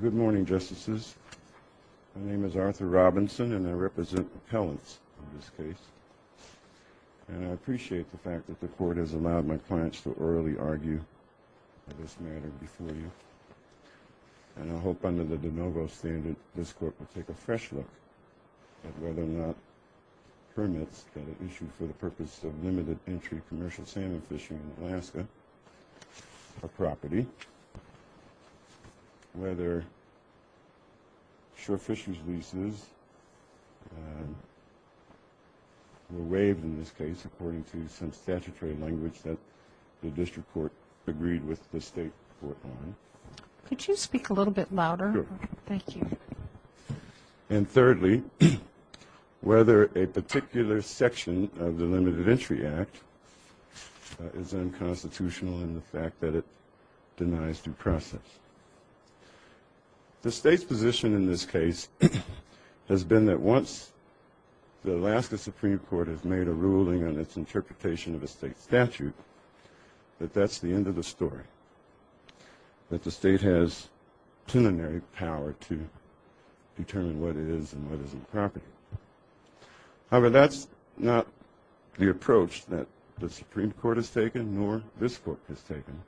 Good morning, Justices. My name is Arthur Robinson, and I represent appellants in this case. And I appreciate the fact that the Court has allowed my clients to orally argue on this matter before you. And I hope under the de novo standard, this Court will take a fresh look at whether or not whether Shaw Fisher's leases were waived in this case according to some statutory language that the District Court agreed with the State Court on. Could you speak a little bit louder? Thank you. And thirdly, whether a particular section of the Limited Entry Act is unconstitutional in the fact that it denies due process. The State's position in this case has been that once the Alaska Supreme Court has made a ruling on its interpretation of a State statute, that that's the end of the story. That the State has preliminary power to determine what is and what isn't property. However, that's not the approach that the Supreme Court has taken, nor this Court has taken.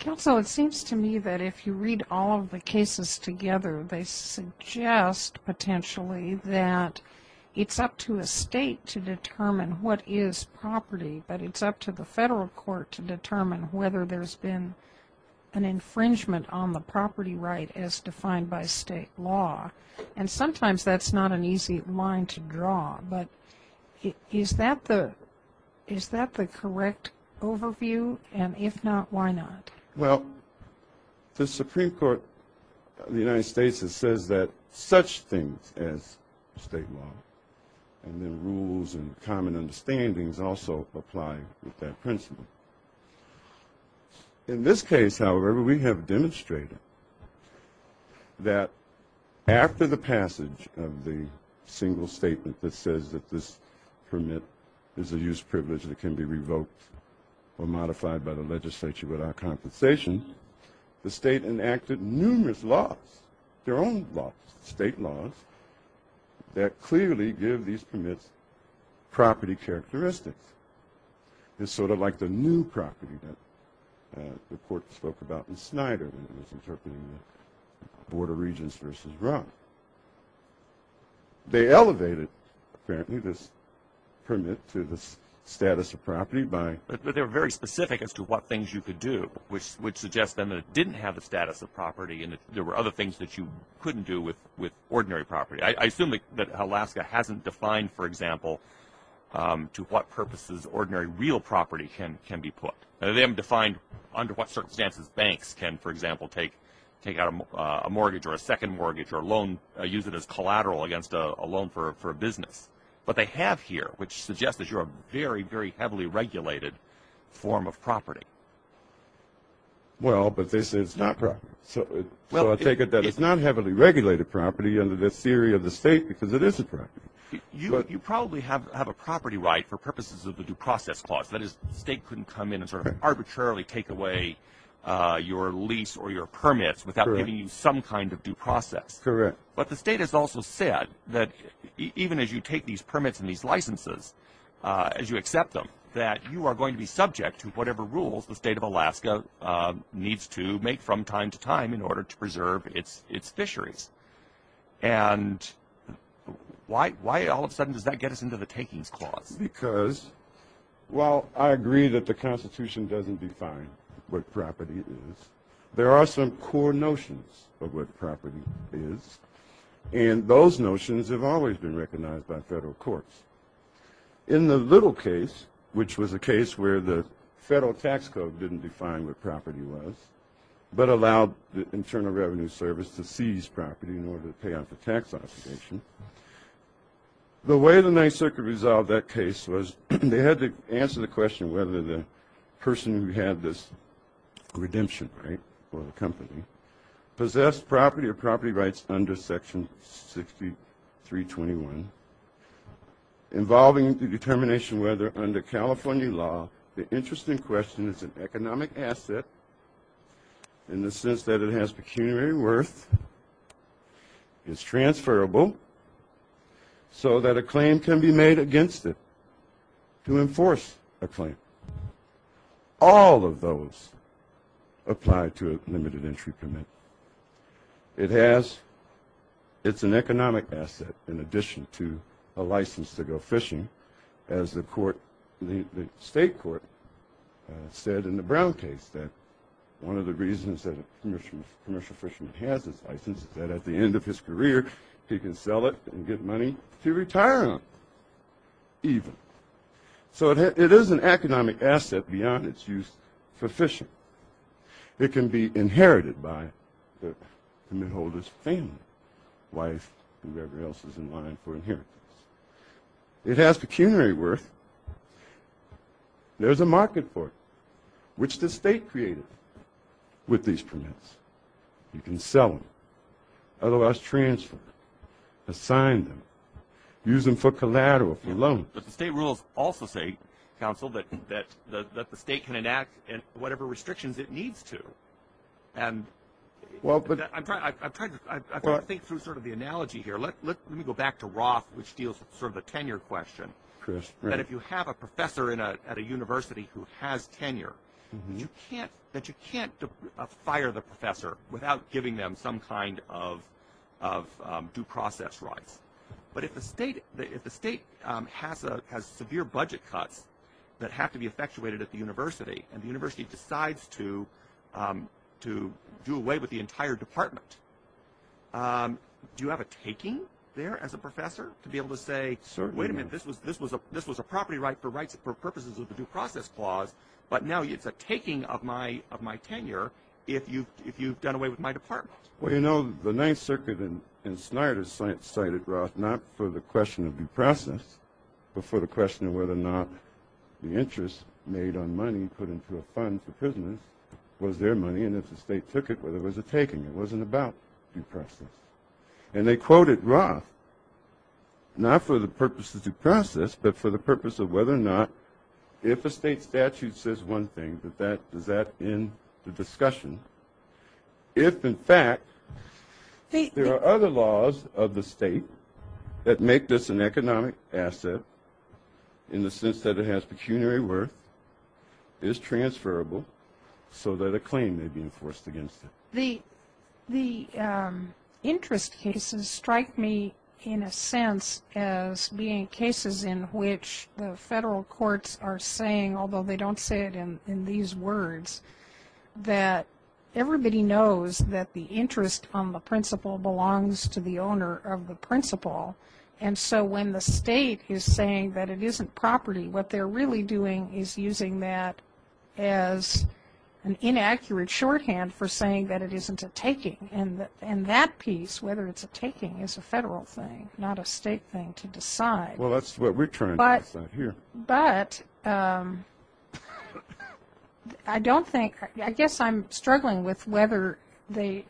Counsel, it seems to me that if you read all of the cases together, they suggest potentially that it's up to a State to determine what is property, but it's up to the Federal Court to determine whether there's been an infringement on the property right as defined by State law. And sometimes that's not an easy line to draw, but is that the correct overview? And if not, why not? Well, the Supreme Court of the United States says that such things as State law and the rules and common understandings also apply with that principle. In this case, however, we have demonstrated that after the passage of the single statement that says that this permit is a used privilege that can be revoked or modified by the legislature without compensation, the State enacted numerous laws, their own laws, State laws, that clearly give these permits property characteristics. It's sort of like the new property that the Court spoke about in Snyder when it was interpreting the Board of Regents versus Rupp. They elevated, apparently, this permit to the status of property by... But they were very specific as to what things you could do, which suggests then that it didn't have the status of property and that there were other things that you couldn't do with ordinary property. I assume that Alaska hasn't defined, for example, to what purposes ordinary real property can be put. They haven't defined under what circumstances banks can, for example, take out a mortgage or a second mortgage or a loan, use it as collateral against a loan for a business. But they have here, which suggests that you're a very, very heavily regulated form of property. Well, but this is not property. So I take it that it's not heavily regulated property under this theory of the State because it is a property. You probably have a property right for purposes of the Due Process Clause. That is, the State couldn't come in and sort of arbitrarily take away your lease or your permits without giving you some kind of due process. Correct. But the State has also said that even as you take these permits and these licenses, as you accept them, that you are going to be subject to whatever rules the State of Alaska needs to make from time to time in order to preserve its fisheries. And why all of a sudden does that get us into the Takings Clause? Because while I agree that the Constitution doesn't define what property is, there are some core notions of what property is. And those notions have always been recognized by federal courts. In the Little case, which was a case where the federal tax code didn't define what property was, but allowed the Internal Revenue Service to seize property in order to pay off the tax obligation, the way the Ninth Circuit resolved that case was they had to answer the question whether the person who had this redemption right for the company possessed property or property rights under Section 6321 involving the determination whether, under California law, the interest in question is an economic asset in the sense that it has pecuniary worth, is transferable, so that a claim can be made against it to enforce a claim. All of those apply to a limited entry permit. It's an economic asset in addition to a license to go fishing, as the state court said in the Brown case, that one of the reasons that a commercial fisherman has his license is that at the end of his career, he can sell it and get money to retire on, even. So it is an economic asset beyond its use for fishing. It can be inherited by the permit holder's family, wife, whoever else is in line for inheritance. It has pecuniary worth. There's a market for it, which the state created with these permits. You can sell them, otherwise transfer them, assign them, use them for collateral, for loans. But the state rules also say, counsel, that the state can enact whatever restrictions it needs to. And I'm trying to think through sort of the analogy here. Let me go back to Roth, which deals with sort of the tenure question, that if you have a professor at a university who has tenure, that you can't fire the professor without giving them some kind of due process rights. But if the state has severe budget cuts that have to be effectuated at the university, and the university decides to do away with the entire department, do you have a taking there as a professor to be able to say, wait a minute, this was a property right for purposes of the due process clause, but now it's a taking of my tenure if you've done away with my department? Well, you know, the Ninth Circuit in Snyder cited Roth not for the question of due process, but for the question of whether or not the interest made on money put into a fund for prisoners was their money, and if the state took it, whether it was a taking. It wasn't about due process. And they quoted Roth not for the purposes of due process, but for the purpose of whether or not if a state statute says one thing, does that end the discussion? If, in fact, there are other laws of the state that make this an economic asset in the sense that it has pecuniary worth, is transferable so that a claim may be enforced against it. The interest cases strike me in a sense as being cases in which the federal courts are saying, although they don't say it in these words, that everybody knows that the interest on the principal belongs to the owner of the principal, and so when the state is saying that it isn't property, what they're really doing is using that as an inaccurate shorthand for saying that it isn't a taking. And that piece, whether it's a taking, is a federal thing, not a state thing to decide. Well, that's what we're trying to decide here. But I don't think, I guess I'm struggling with whether the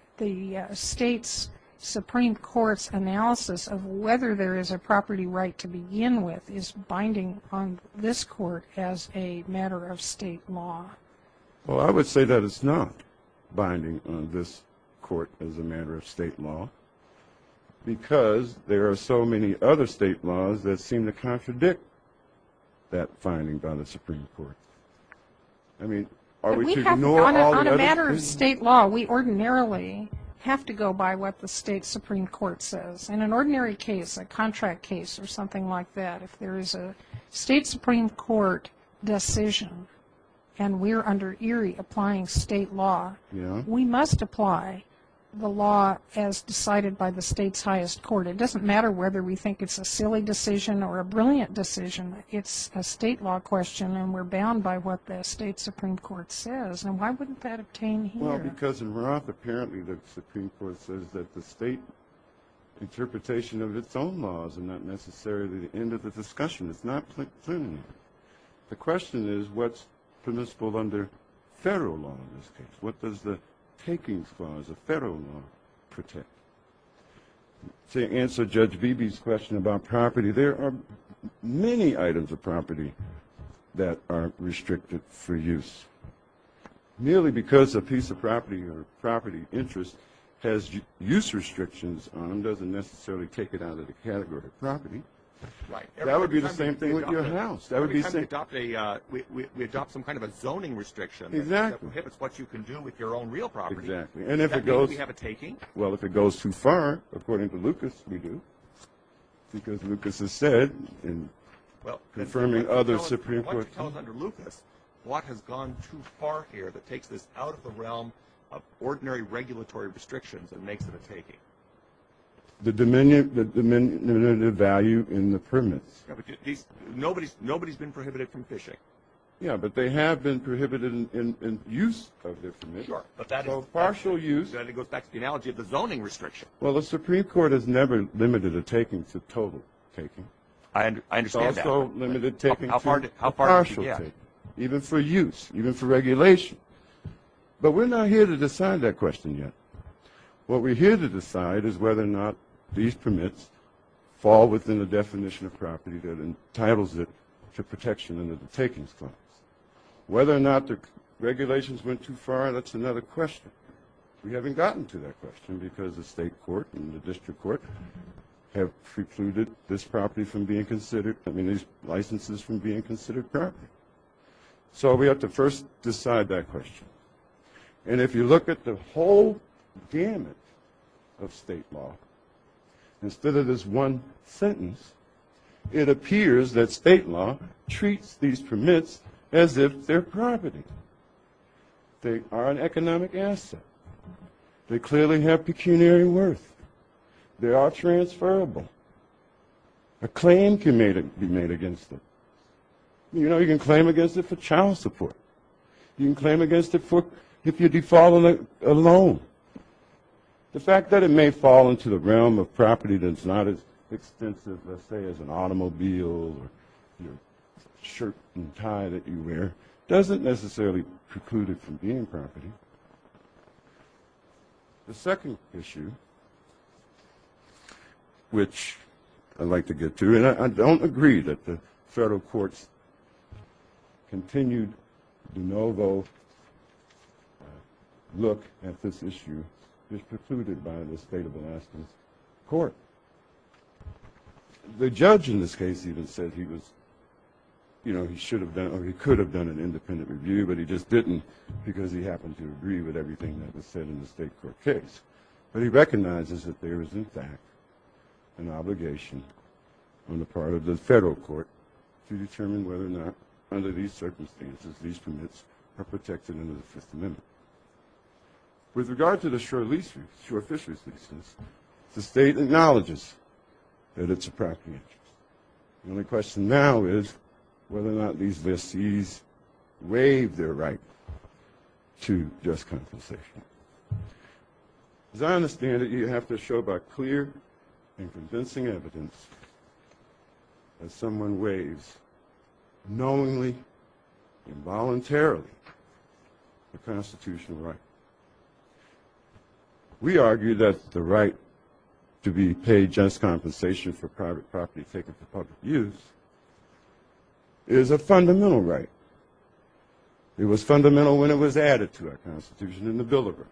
state's Supreme Court's analysis of whether there is a property right to begin with is binding on this Court as a matter of state law. Well, I would say that it's not binding on this Court as a matter of state law, because there are so many other state laws that seem to contradict that finding by the Supreme Court. I mean, are we to ignore all the other things? On a matter of state law, we ordinarily have to go by what the state Supreme Court says. In an ordinary case, a contract case or something like that, if there is a state Supreme Court decision and we're under Erie applying state law, we must apply the law as decided by the state's highest court. It doesn't matter whether we think it's a silly decision or a brilliant decision. It's a state law question, and we're bound by what the state Supreme Court says. And why wouldn't that obtain here? Well, because in Roth, apparently the Supreme Court says that the state interpretation of its own laws are not necessarily the end of the discussion. It's not clear enough. The question is, what's permissible under federal law in this case? What does the takings clause of federal law protect? To answer Judge Beebe's question about property, there are many items of property that are restricted for use. Merely because a piece of property or property interest has use restrictions on them doesn't necessarily take it out of the category of property. That would be the same thing with your house. We adopt some kind of a zoning restriction that prohibits what you can do with your own real property. Exactly. Does that mean we have a taking? Well, if it goes too far, according to Lucas, we do, because Lucas has said in confirming other Supreme Court cases. Why don't you tell us under Lucas what has gone too far here that takes this out of the realm of ordinary regulatory restrictions and makes it a taking? The diminutive value in the permits. Nobody's been prohibited from fishing. Yeah, but they have been prohibited in use of their permits. So partial use. That goes back to the analogy of the zoning restriction. Well, the Supreme Court has never limited a taking to total taking. I understand that. It's also limited taking to partial taking. Even for use, even for regulation. But we're not here to decide that question yet. What we're here to decide is whether or not these permits fall within the definition of property that entitles it to protection under the takings clause. Whether or not the regulations went too far, that's another question. We haven't gotten to that question because the state court and the district court have precluded these licenses from being considered property. So we have to first decide that question. And if you look at the whole gamut of state law, instead of this one sentence, it appears that state law treats these permits as if they're property. They are an economic asset. They clearly have pecuniary worth. They are transferable. A claim can be made against them. You know, you can claim against it for child support. You can claim against it if you default on a loan. The fact that it may fall into the realm of property that's not as extensive, let's say, as an automobile or shirt and tie that you wear doesn't necessarily preclude it from being property. The second issue, which I'd like to get to, and I don't agree that the federal court's continued de novo look at this issue is precluded by the state of Alaska's court. The judge in this case even said he was, you know, he should have done or he could have done an independent review, but he just didn't because he happened to agree with everything that was said in the state court case. But he recognizes that there is, in fact, an obligation on the part of the federal court to determine whether or not, under these circumstances, these permits are protected under the Fifth Amendment. With regard to the shore fisheries leases, the state acknowledges that it's a property interest. The only question now is whether or not these leases waive their right to just compensation. As I understand it, you have to show by clear and convincing evidence that someone waives, knowingly, involuntarily, the constitutional right. We argue that the right to be paid just compensation for private property taken for public use is a fundamental right. It was fundamental when it was added to our Constitution in the Bill of Rights.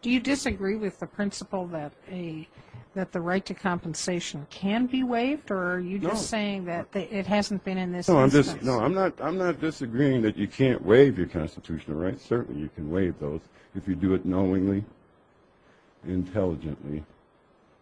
Do you disagree with the principle that the right to compensation can be waived, or are you just saying that it hasn't been in this instance? No, I'm not disagreeing that you can't waive your constitutional right. Certainly you can waive those if you do it knowingly, intelligently.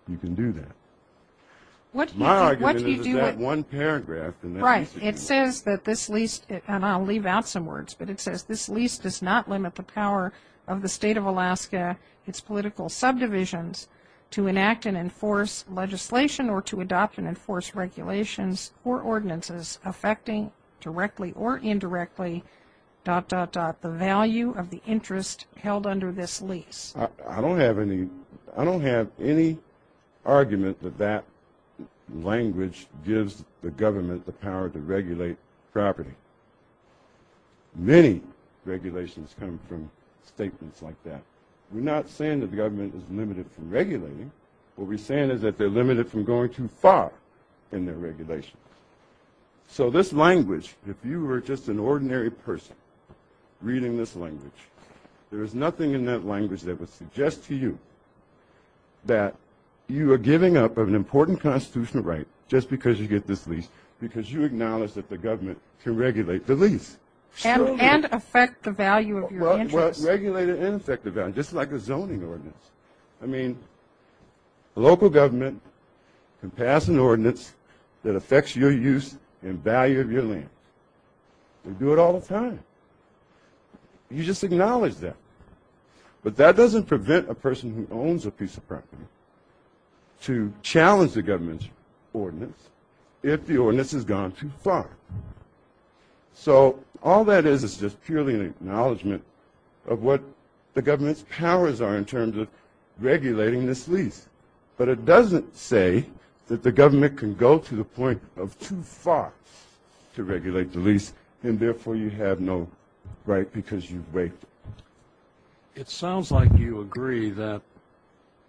You can do that. My argument is that one paragraph in that lease. Right. It says that this lease, and I'll leave out some words, but it says this lease does not limit the power of the state of Alaska, its political subdivisions, to enact and enforce legislation or to adopt and enforce regulations or ordinances affecting directly or indirectly dot, dot, dot, the value of the interest held under this lease. I don't have any argument that that language gives the government the power to regulate property. Many regulations come from statements like that. We're not saying that the government is limited from regulating. What we're saying is that they're limited from going too far in their regulations. So this language, if you were just an ordinary person reading this language, there is nothing in that language that would suggest to you that you are giving up an important constitutional right just because you get this lease because you acknowledge that the government can regulate the lease. And affect the value of your interest. Well, regulate it and affect the value, just like a zoning ordinance. I mean, local government can pass an ordinance that affects your use and value of your land. They do it all the time. You just acknowledge that. But that doesn't prevent a person who owns a piece of property to challenge the government's ordinance if the ordinance has gone too far. So all that is is just purely an acknowledgement of what the government's powers are in terms of regulating this lease. But it doesn't say that the government can go to the point of too far to regulate the lease, and therefore you have no right because you wait. It sounds like you agree that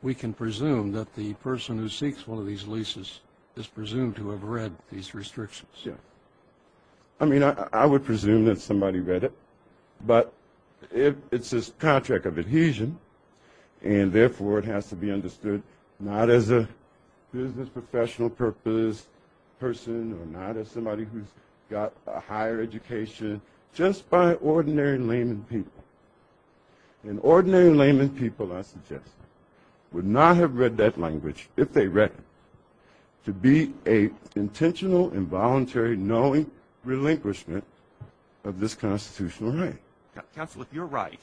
we can presume that the person who seeks one of these leases is presumed to have read these restrictions. I mean, I would presume that somebody read it. But it's this contract of adhesion, and therefore it has to be understood not as a business professional purpose person or not as somebody who's got a higher education, just by ordinary layman people. And ordinary layman people, I suggest, would not have read that language, if they read it, to be an intentional, involuntary, knowing relinquishment of this constitutional right. Counsel, if you're right,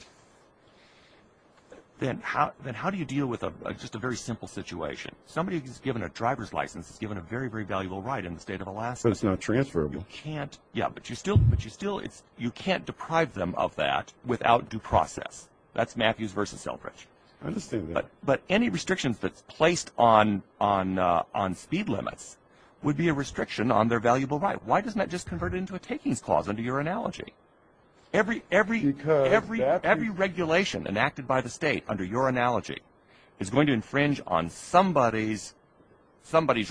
then how do you deal with just a very simple situation? Somebody who's given a driver's license is given a very, very valuable right in the state of Alaska. But it's not transferable. Yeah, but you can't deprive them of that without due process. That's Matthews v. Selbridge. I understand that. But any restrictions that's placed on speed limits would be a restriction on their valuable right. Why doesn't that just convert into a takings clause under your analogy? Every regulation enacted by the state under your analogy is going to infringe on somebody's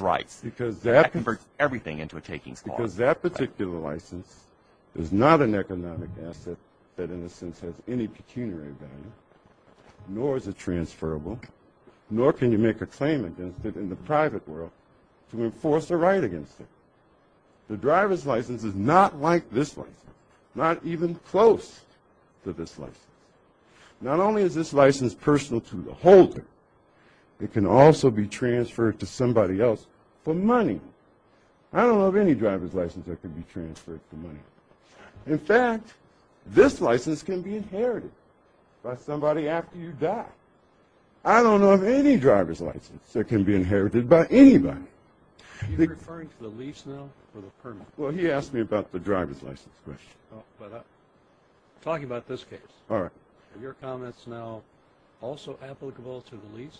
rights. That converts everything into a takings clause. Because that particular license is not an economic asset that, in a sense, has any pecuniary value, nor is it transferable, nor can you make a claim against it in the private world to enforce a right against it. The driver's license is not like this license, not even close to this license. Not only is this license personal to the holder, it can also be transferred to somebody else for money. I don't know of any driver's license that can be transferred for money. In fact, this license can be inherited by somebody after you die. I don't know of any driver's license that can be inherited by anybody. Are you referring to the lease now or the permit? Well, he asked me about the driver's license question. Oh, but I'm talking about this case. All right. Are your comments now also applicable to the lease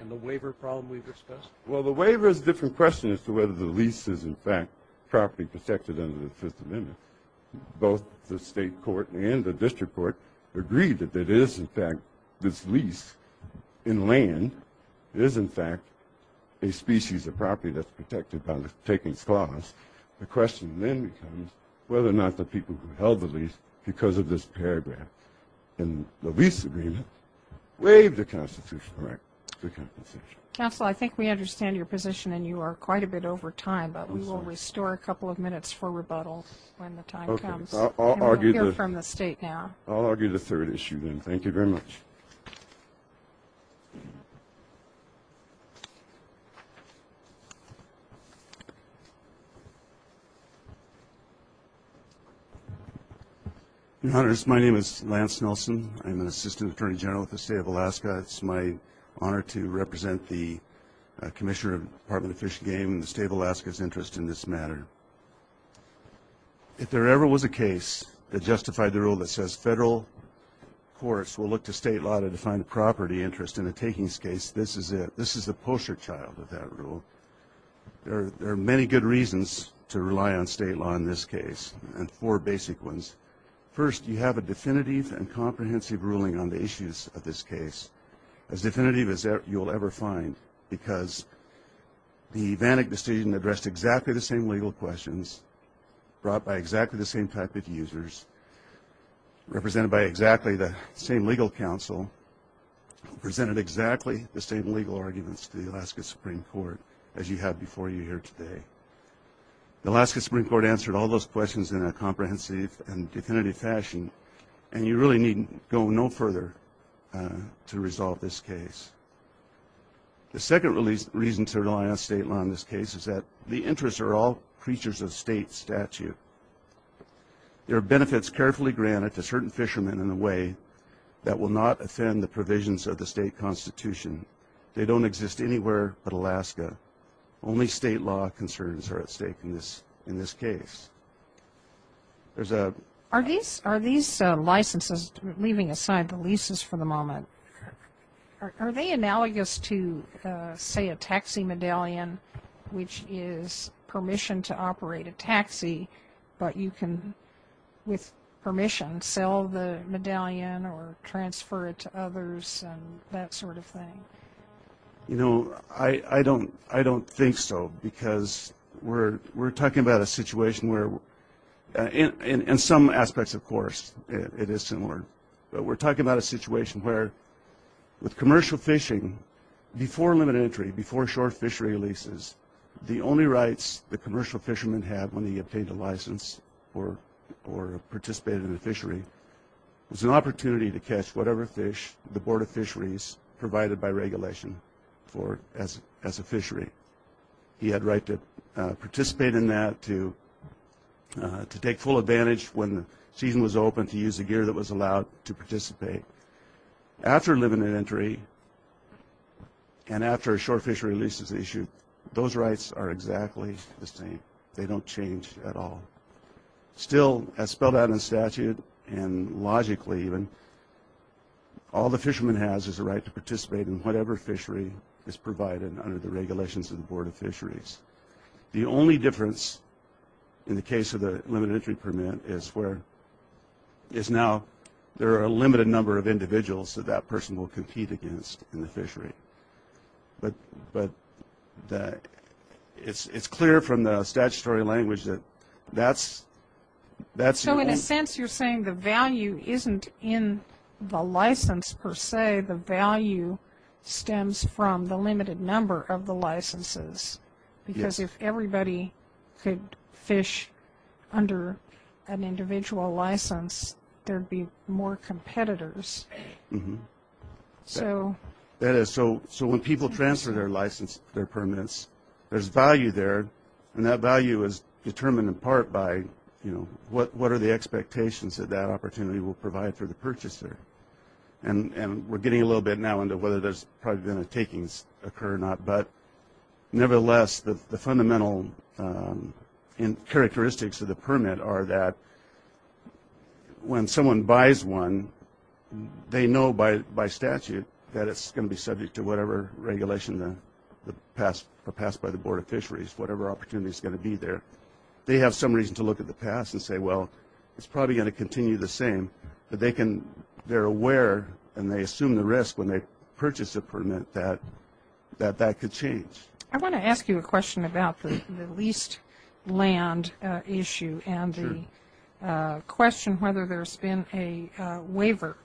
and the waiver problem we've discussed? Well, the waiver is a different question as to whether the lease is, in fact, properly protected under the Fifth Amendment. Both the state court and the district court agreed that it is, in fact, this lease in land. It is, in fact, a species of property that's protected by the takings clause. The question then becomes whether or not the people who held the lease because of this paragraph in the lease agreement waived the constitutional right to compensation. Counsel, I think we understand your position, and you are quite a bit over time, but we will restore a couple of minutes for rebuttal when the time comes. Okay. And we'll hear from the state now. I'll argue the third issue then. Thank you very much. Your Honors, my name is Lance Nelson. I'm an Assistant Attorney General with the State of Alaska. It's my honor to represent the Commissioner of the Department of Fish and Game and the State of Alaska's interest in this matter. If there ever was a case that justified the rule that says federal courts will look to state law to define the property interest in a takings case, this is it. This is the poster child of that rule. There are many good reasons to rely on state law in this case, and four basic ones. First, you have a definitive and comprehensive ruling on the issues of this case, as definitive as you will ever find, because the Vantag decision addressed exactly the same legal questions brought by exactly the same type of users, represented by exactly the same legal counsel, presented exactly the same legal arguments to the Alaska Supreme Court as you had before you here today. The Alaska Supreme Court answered all those questions in a comprehensive and definitive fashion, and you really need go no further to resolve this case. The second reason to rely on state law in this case is that the interests are all creatures of state statute. There are benefits carefully granted to certain fishermen in a way that will not offend the provisions of the state constitution. They don't exist anywhere but Alaska. Only state law concerns are at stake in this case. There's a... Are these licenses, leaving aside the leases for the moment, are they analogous to, say, a taxi medallion, which is permission to operate a taxi, but you can, with permission, sell the medallion or transfer it to others and that sort of thing? You know, I don't think so because we're talking about a situation where, in some aspects, of course, it is similar, but we're talking about a situation where with commercial fishing, before limited entry, before shore fishery leases, the only rights the commercial fisherman had when he obtained a license or participated in the fishery was an opportunity to catch whatever fish the Board of Fisheries provided by regulation for as a fishery. He had a right to participate in that, to take full advantage when the season was open, to use the gear that was allowed to participate. After limited entry and after a shore fishery lease is issued, those rights are exactly the same. They don't change at all. Still, as spelled out in statute and logically even, all the fisherman has is a right to participate in whatever fishery is provided under the regulations of the Board of Fisheries. The only difference, in the case of the limited entry permit, is now there are a limited number of individuals that that person will compete against in the fishery. But it's clear from the statutory language that that's... So in a sense, you're saying the value isn't in the license per se. The value stems from the limited number of the licenses. Because if everybody could fish under an individual license, there'd be more competitors. So when people transfer their permits, there's value there, and that value is determined in part by what are the expectations that that opportunity will provide for the purchaser. And we're getting a little bit now into whether there's probably going to takings occur or not. But nevertheless, the fundamental characteristics of the permit are that when someone buys one, they know by statute that it's going to be subject to whatever regulation passed by the Board of Fisheries, whatever opportunity is going to be there. They have some reason to look at the past and say, well, it's probably going to continue the same. But they're aware and they assume the risk when they purchase a permit that that could change. I want to ask you a question about the leased land issue and the question whether there's been a waiver.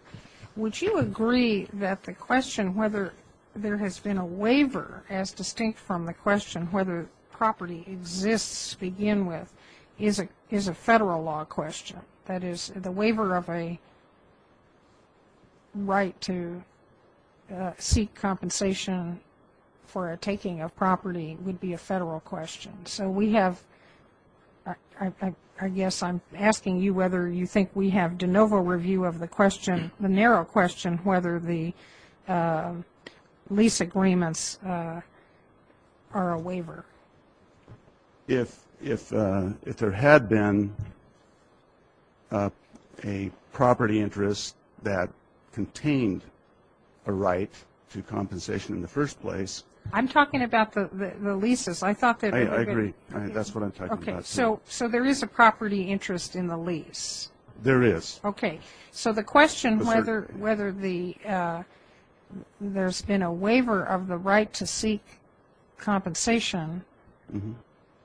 Would you agree that the question whether there has been a waiver, as distinct from the question whether property exists begin with, is a federal law question? That is, the waiver of a right to seek compensation for a taking of property would be a federal question. So we have, I guess I'm asking you whether you think we have de novo review of the question, the narrow question whether the lease agreements are a waiver. If there had been a property interest that contained a right to compensation in the first place. I'm talking about the leases. I agree. That's what I'm talking about. So there is a property interest in the lease. There is. Okay. So the question whether there's been a waiver of the right to seek compensation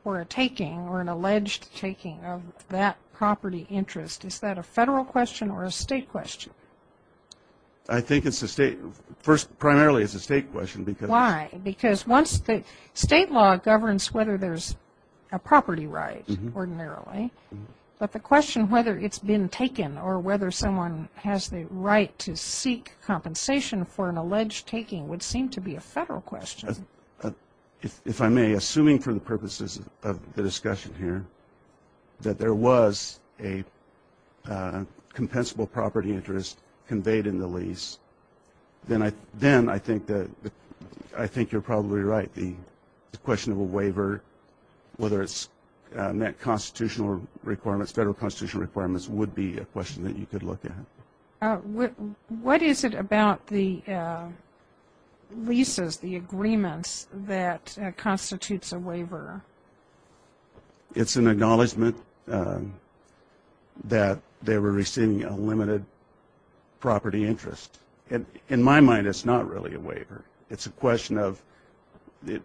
for a taking or an alleged taking of that property interest, is that a federal question or a state question? I think it's a state. First, primarily it's a state question. Why? Because once the state law governs whether there's a property right ordinarily, but the question whether it's been taken or whether someone has the right to seek compensation for an alleged taking would seem to be a federal question. If I may, assuming for the purposes of the discussion here, that there was a compensable property interest conveyed in the lease, then I think you're probably right. I think the question of a waiver, whether it's met constitutional requirements, federal constitutional requirements, would be a question that you could look at. What is it about the leases, the agreements, that constitutes a waiver? It's an acknowledgement that they were receiving a limited property interest. In my mind, it's not really a waiver. It's a question of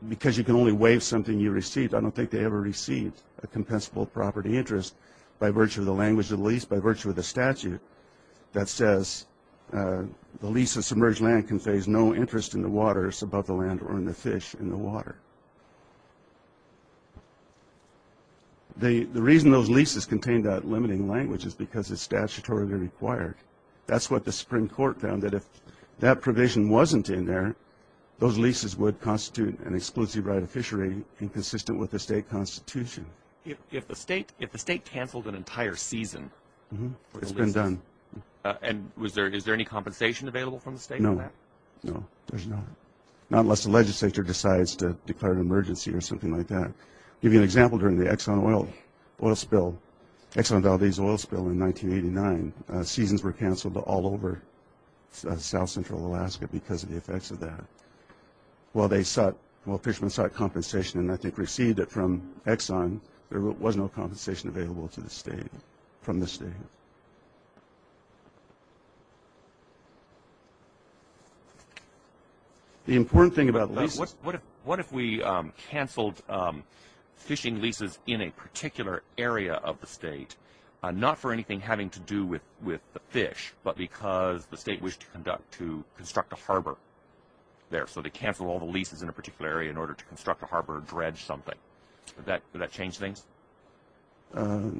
because you can only waive something you received, I don't think they ever received a compensable property interest by virtue of the language of the lease, by virtue of the statute that says the lease of submerged land conveys no interest in the waters above the land or in the fish in the water. The reason those leases contain that limiting language is because it's statutorily required. That's what the Supreme Court found, that if that provision wasn't in there, those leases would constitute an exclusive right of fishery inconsistent with the state constitution. If the state canceled an entire season for the leases, is there any compensation available from the state for that? No, there's none, not unless the legislature decides to declare an emergency or something like that. I'll give you an example. During the Exxon oil spill, Exxon Valdez oil spill in 1989, seasons were canceled all over south-central Alaska because of the effects of that. While fishermen sought compensation and I think received it from Exxon, there was no compensation available from the state. Okay. The important thing about leases... What if we canceled fishing leases in a particular area of the state, not for anything having to do with the fish, but because the state wished to construct a harbor there, so they canceled all the leases in a particular area in order to construct a harbor or dredge something? Would that change things? Well,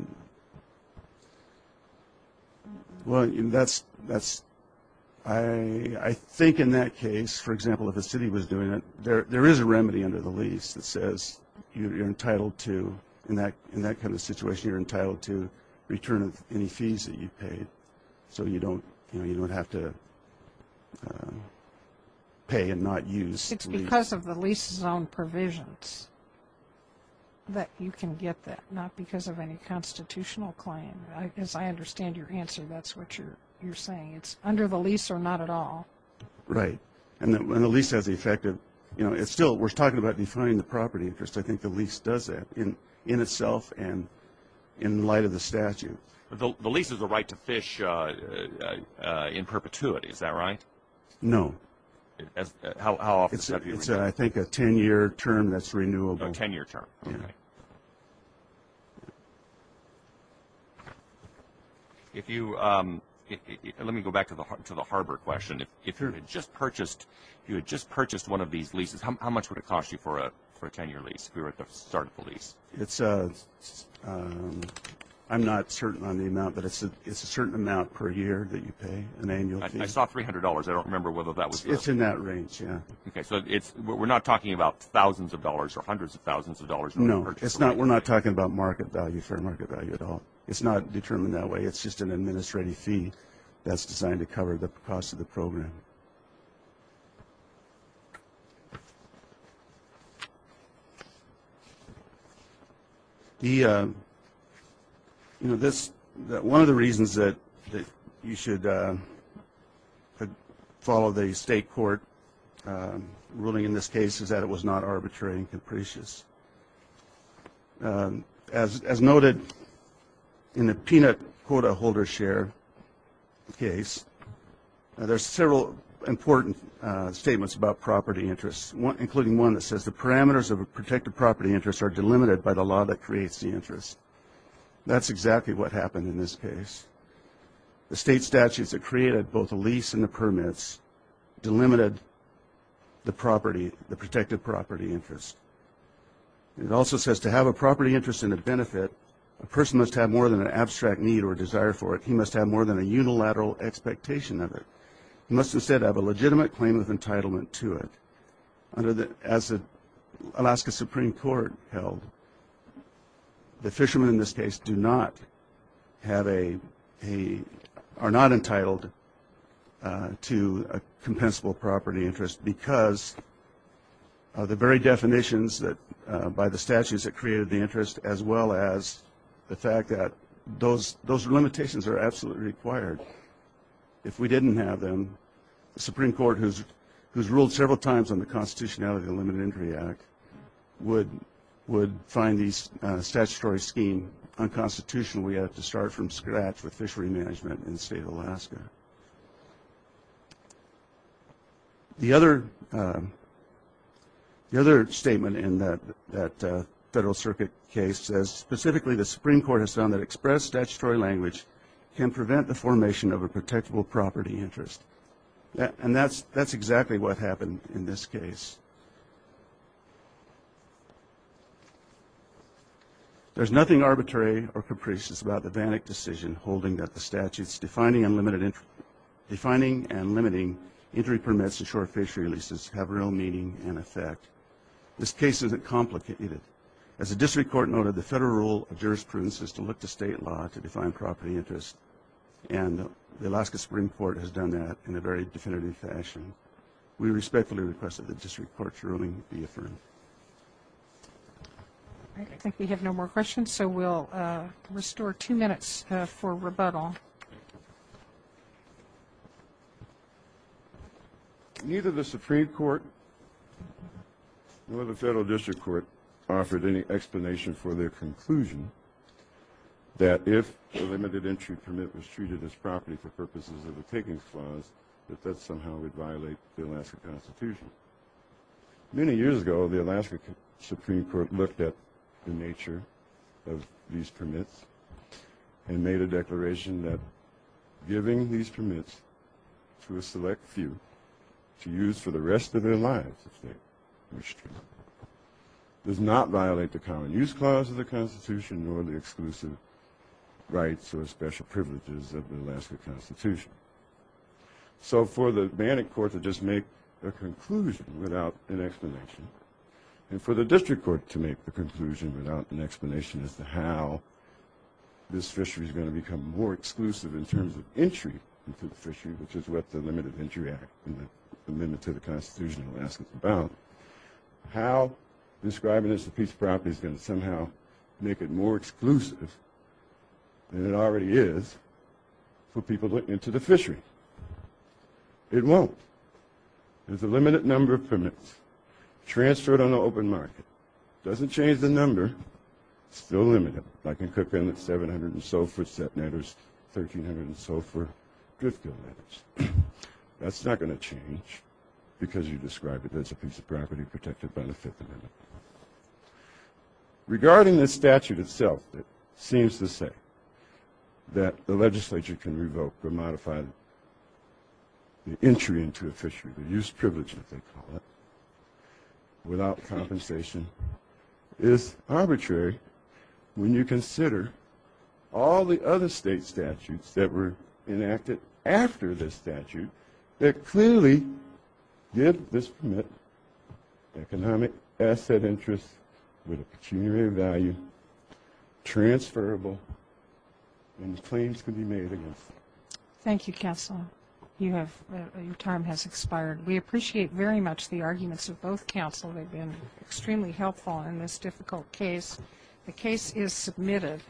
I think in that case, for example, if a city was doing it, there is a remedy under the lease that says you're entitled to, in that kind of situation, you're entitled to return any fees that you paid so you don't have to pay and not use the lease. But it's because of the lease's own provisions that you can get that, not because of any constitutional claim. As I understand your answer, that's what you're saying. It's under the lease or not at all. Right. And the lease has the effect of... We're talking about defining the property interest. I think the lease does that in itself and in light of the statute. The lease is a right to fish in perpetuity. Is that right? No. How often is that? It's, I think, a 10-year term that's renewable. A 10-year term. Okay. Let me go back to the harbor question. If you had just purchased one of these leases, how much would it cost you for a 10-year lease, if you were to start the lease? I'm not certain on the amount, but it's a certain amount per year that you pay an annual fee. I saw $300. I don't remember whether that was... It's in that range, yeah. Okay. So we're not talking about thousands of dollars or hundreds of thousands of dollars. No. We're not talking about market value, fair market value at all. It's not determined that way. It's just an administrative fee that's designed to cover the cost of the program. Okay. One of the reasons that you should follow the state court ruling in this case is that it was not arbitrary and capricious. As noted in the peanut quota holder share case, there's several important statements about property interests, including one that says the parameters of a protected property interest are delimited by the law that creates the interest. That's exactly what happened in this case. The state statutes that created both the lease and the permits delimited the property, the protected property interest. It also says to have a property interest and a benefit, a person must have more than an abstract need or desire for it. He must have more than a unilateral expectation of it. He must instead have a legitimate claim of entitlement to it. As Alaska Supreme Court held, the fishermen in this case do not have a... a compensable property interest because of the very definitions that, by the statutes that created the interest, as well as the fact that those limitations are absolutely required. If we didn't have them, the Supreme Court, who's ruled several times on the constitutionality of the Limited Injury Act, would find these statutory scheme unconstitutional. We have to start from scratch with fishery management in the state of Alaska. The other statement in that Federal Circuit case says, specifically the Supreme Court has found that express statutory language can prevent the formation of a protectable property interest. And that's exactly what happened in this case. There's nothing arbitrary or capricious about the Bannock decision holding that the statutes defining and limiting injury permits to short fishery leases have real meaning and effect. This case isn't complicated. As the district court noted, the federal rule of jurisprudence is to look to state law to define property interest, and the Alaska Supreme Court has done that in a very definitive fashion. We respectfully request that the district court consider this case. All right, I think we have no more questions, so we'll restore two minutes for rebuttal. Neither the Supreme Court nor the federal district court offered any explanation for their conclusion that if a limited injury permit was treated as property for purposes of a takings clause, that that somehow would violate the Alaska Constitution. Many years ago, the Alaska Supreme Court looked at the nature of these permits and made a declaration that giving these permits to a select few to use for the rest of their lives, if they wish to, does not violate the common use clause of the Constitution nor the exclusive rights or special privileges of the Alaska Constitution. So for the Bannock court to just make a conclusion without an explanation, and for the district court to make a conclusion without an explanation as to how this fishery is going to become more exclusive in terms of entry into the fishery, which is what the Limited Injury Act and the Amendment to the Constitution of Alaska is about, how describing this as a piece of property is going to somehow make it more exclusive than it already is for people looking into the fishery? It won't. There's a limited number of permits transferred on the open market. It doesn't change the number. It's still limited. I can cook in at 700 and so for set netters, 1300 and so for drift gill netters. That's not going to change because you describe it as a piece of property, protected by the Fifth Amendment. Regarding the statute itself that seems to say that the legislature can revoke or modify the entry into a fishery, the use privilege, as they call it, without compensation is arbitrary when you consider all the other state statutes that were enacted after this statute that clearly did this permit economic asset interest with a pecuniary value, transferable, and claims could be made against them. Thank you, Counsel. Your time has expired. We appreciate very much the arguments of both counsel. They've been extremely helpful in this difficult case. The case is submitted.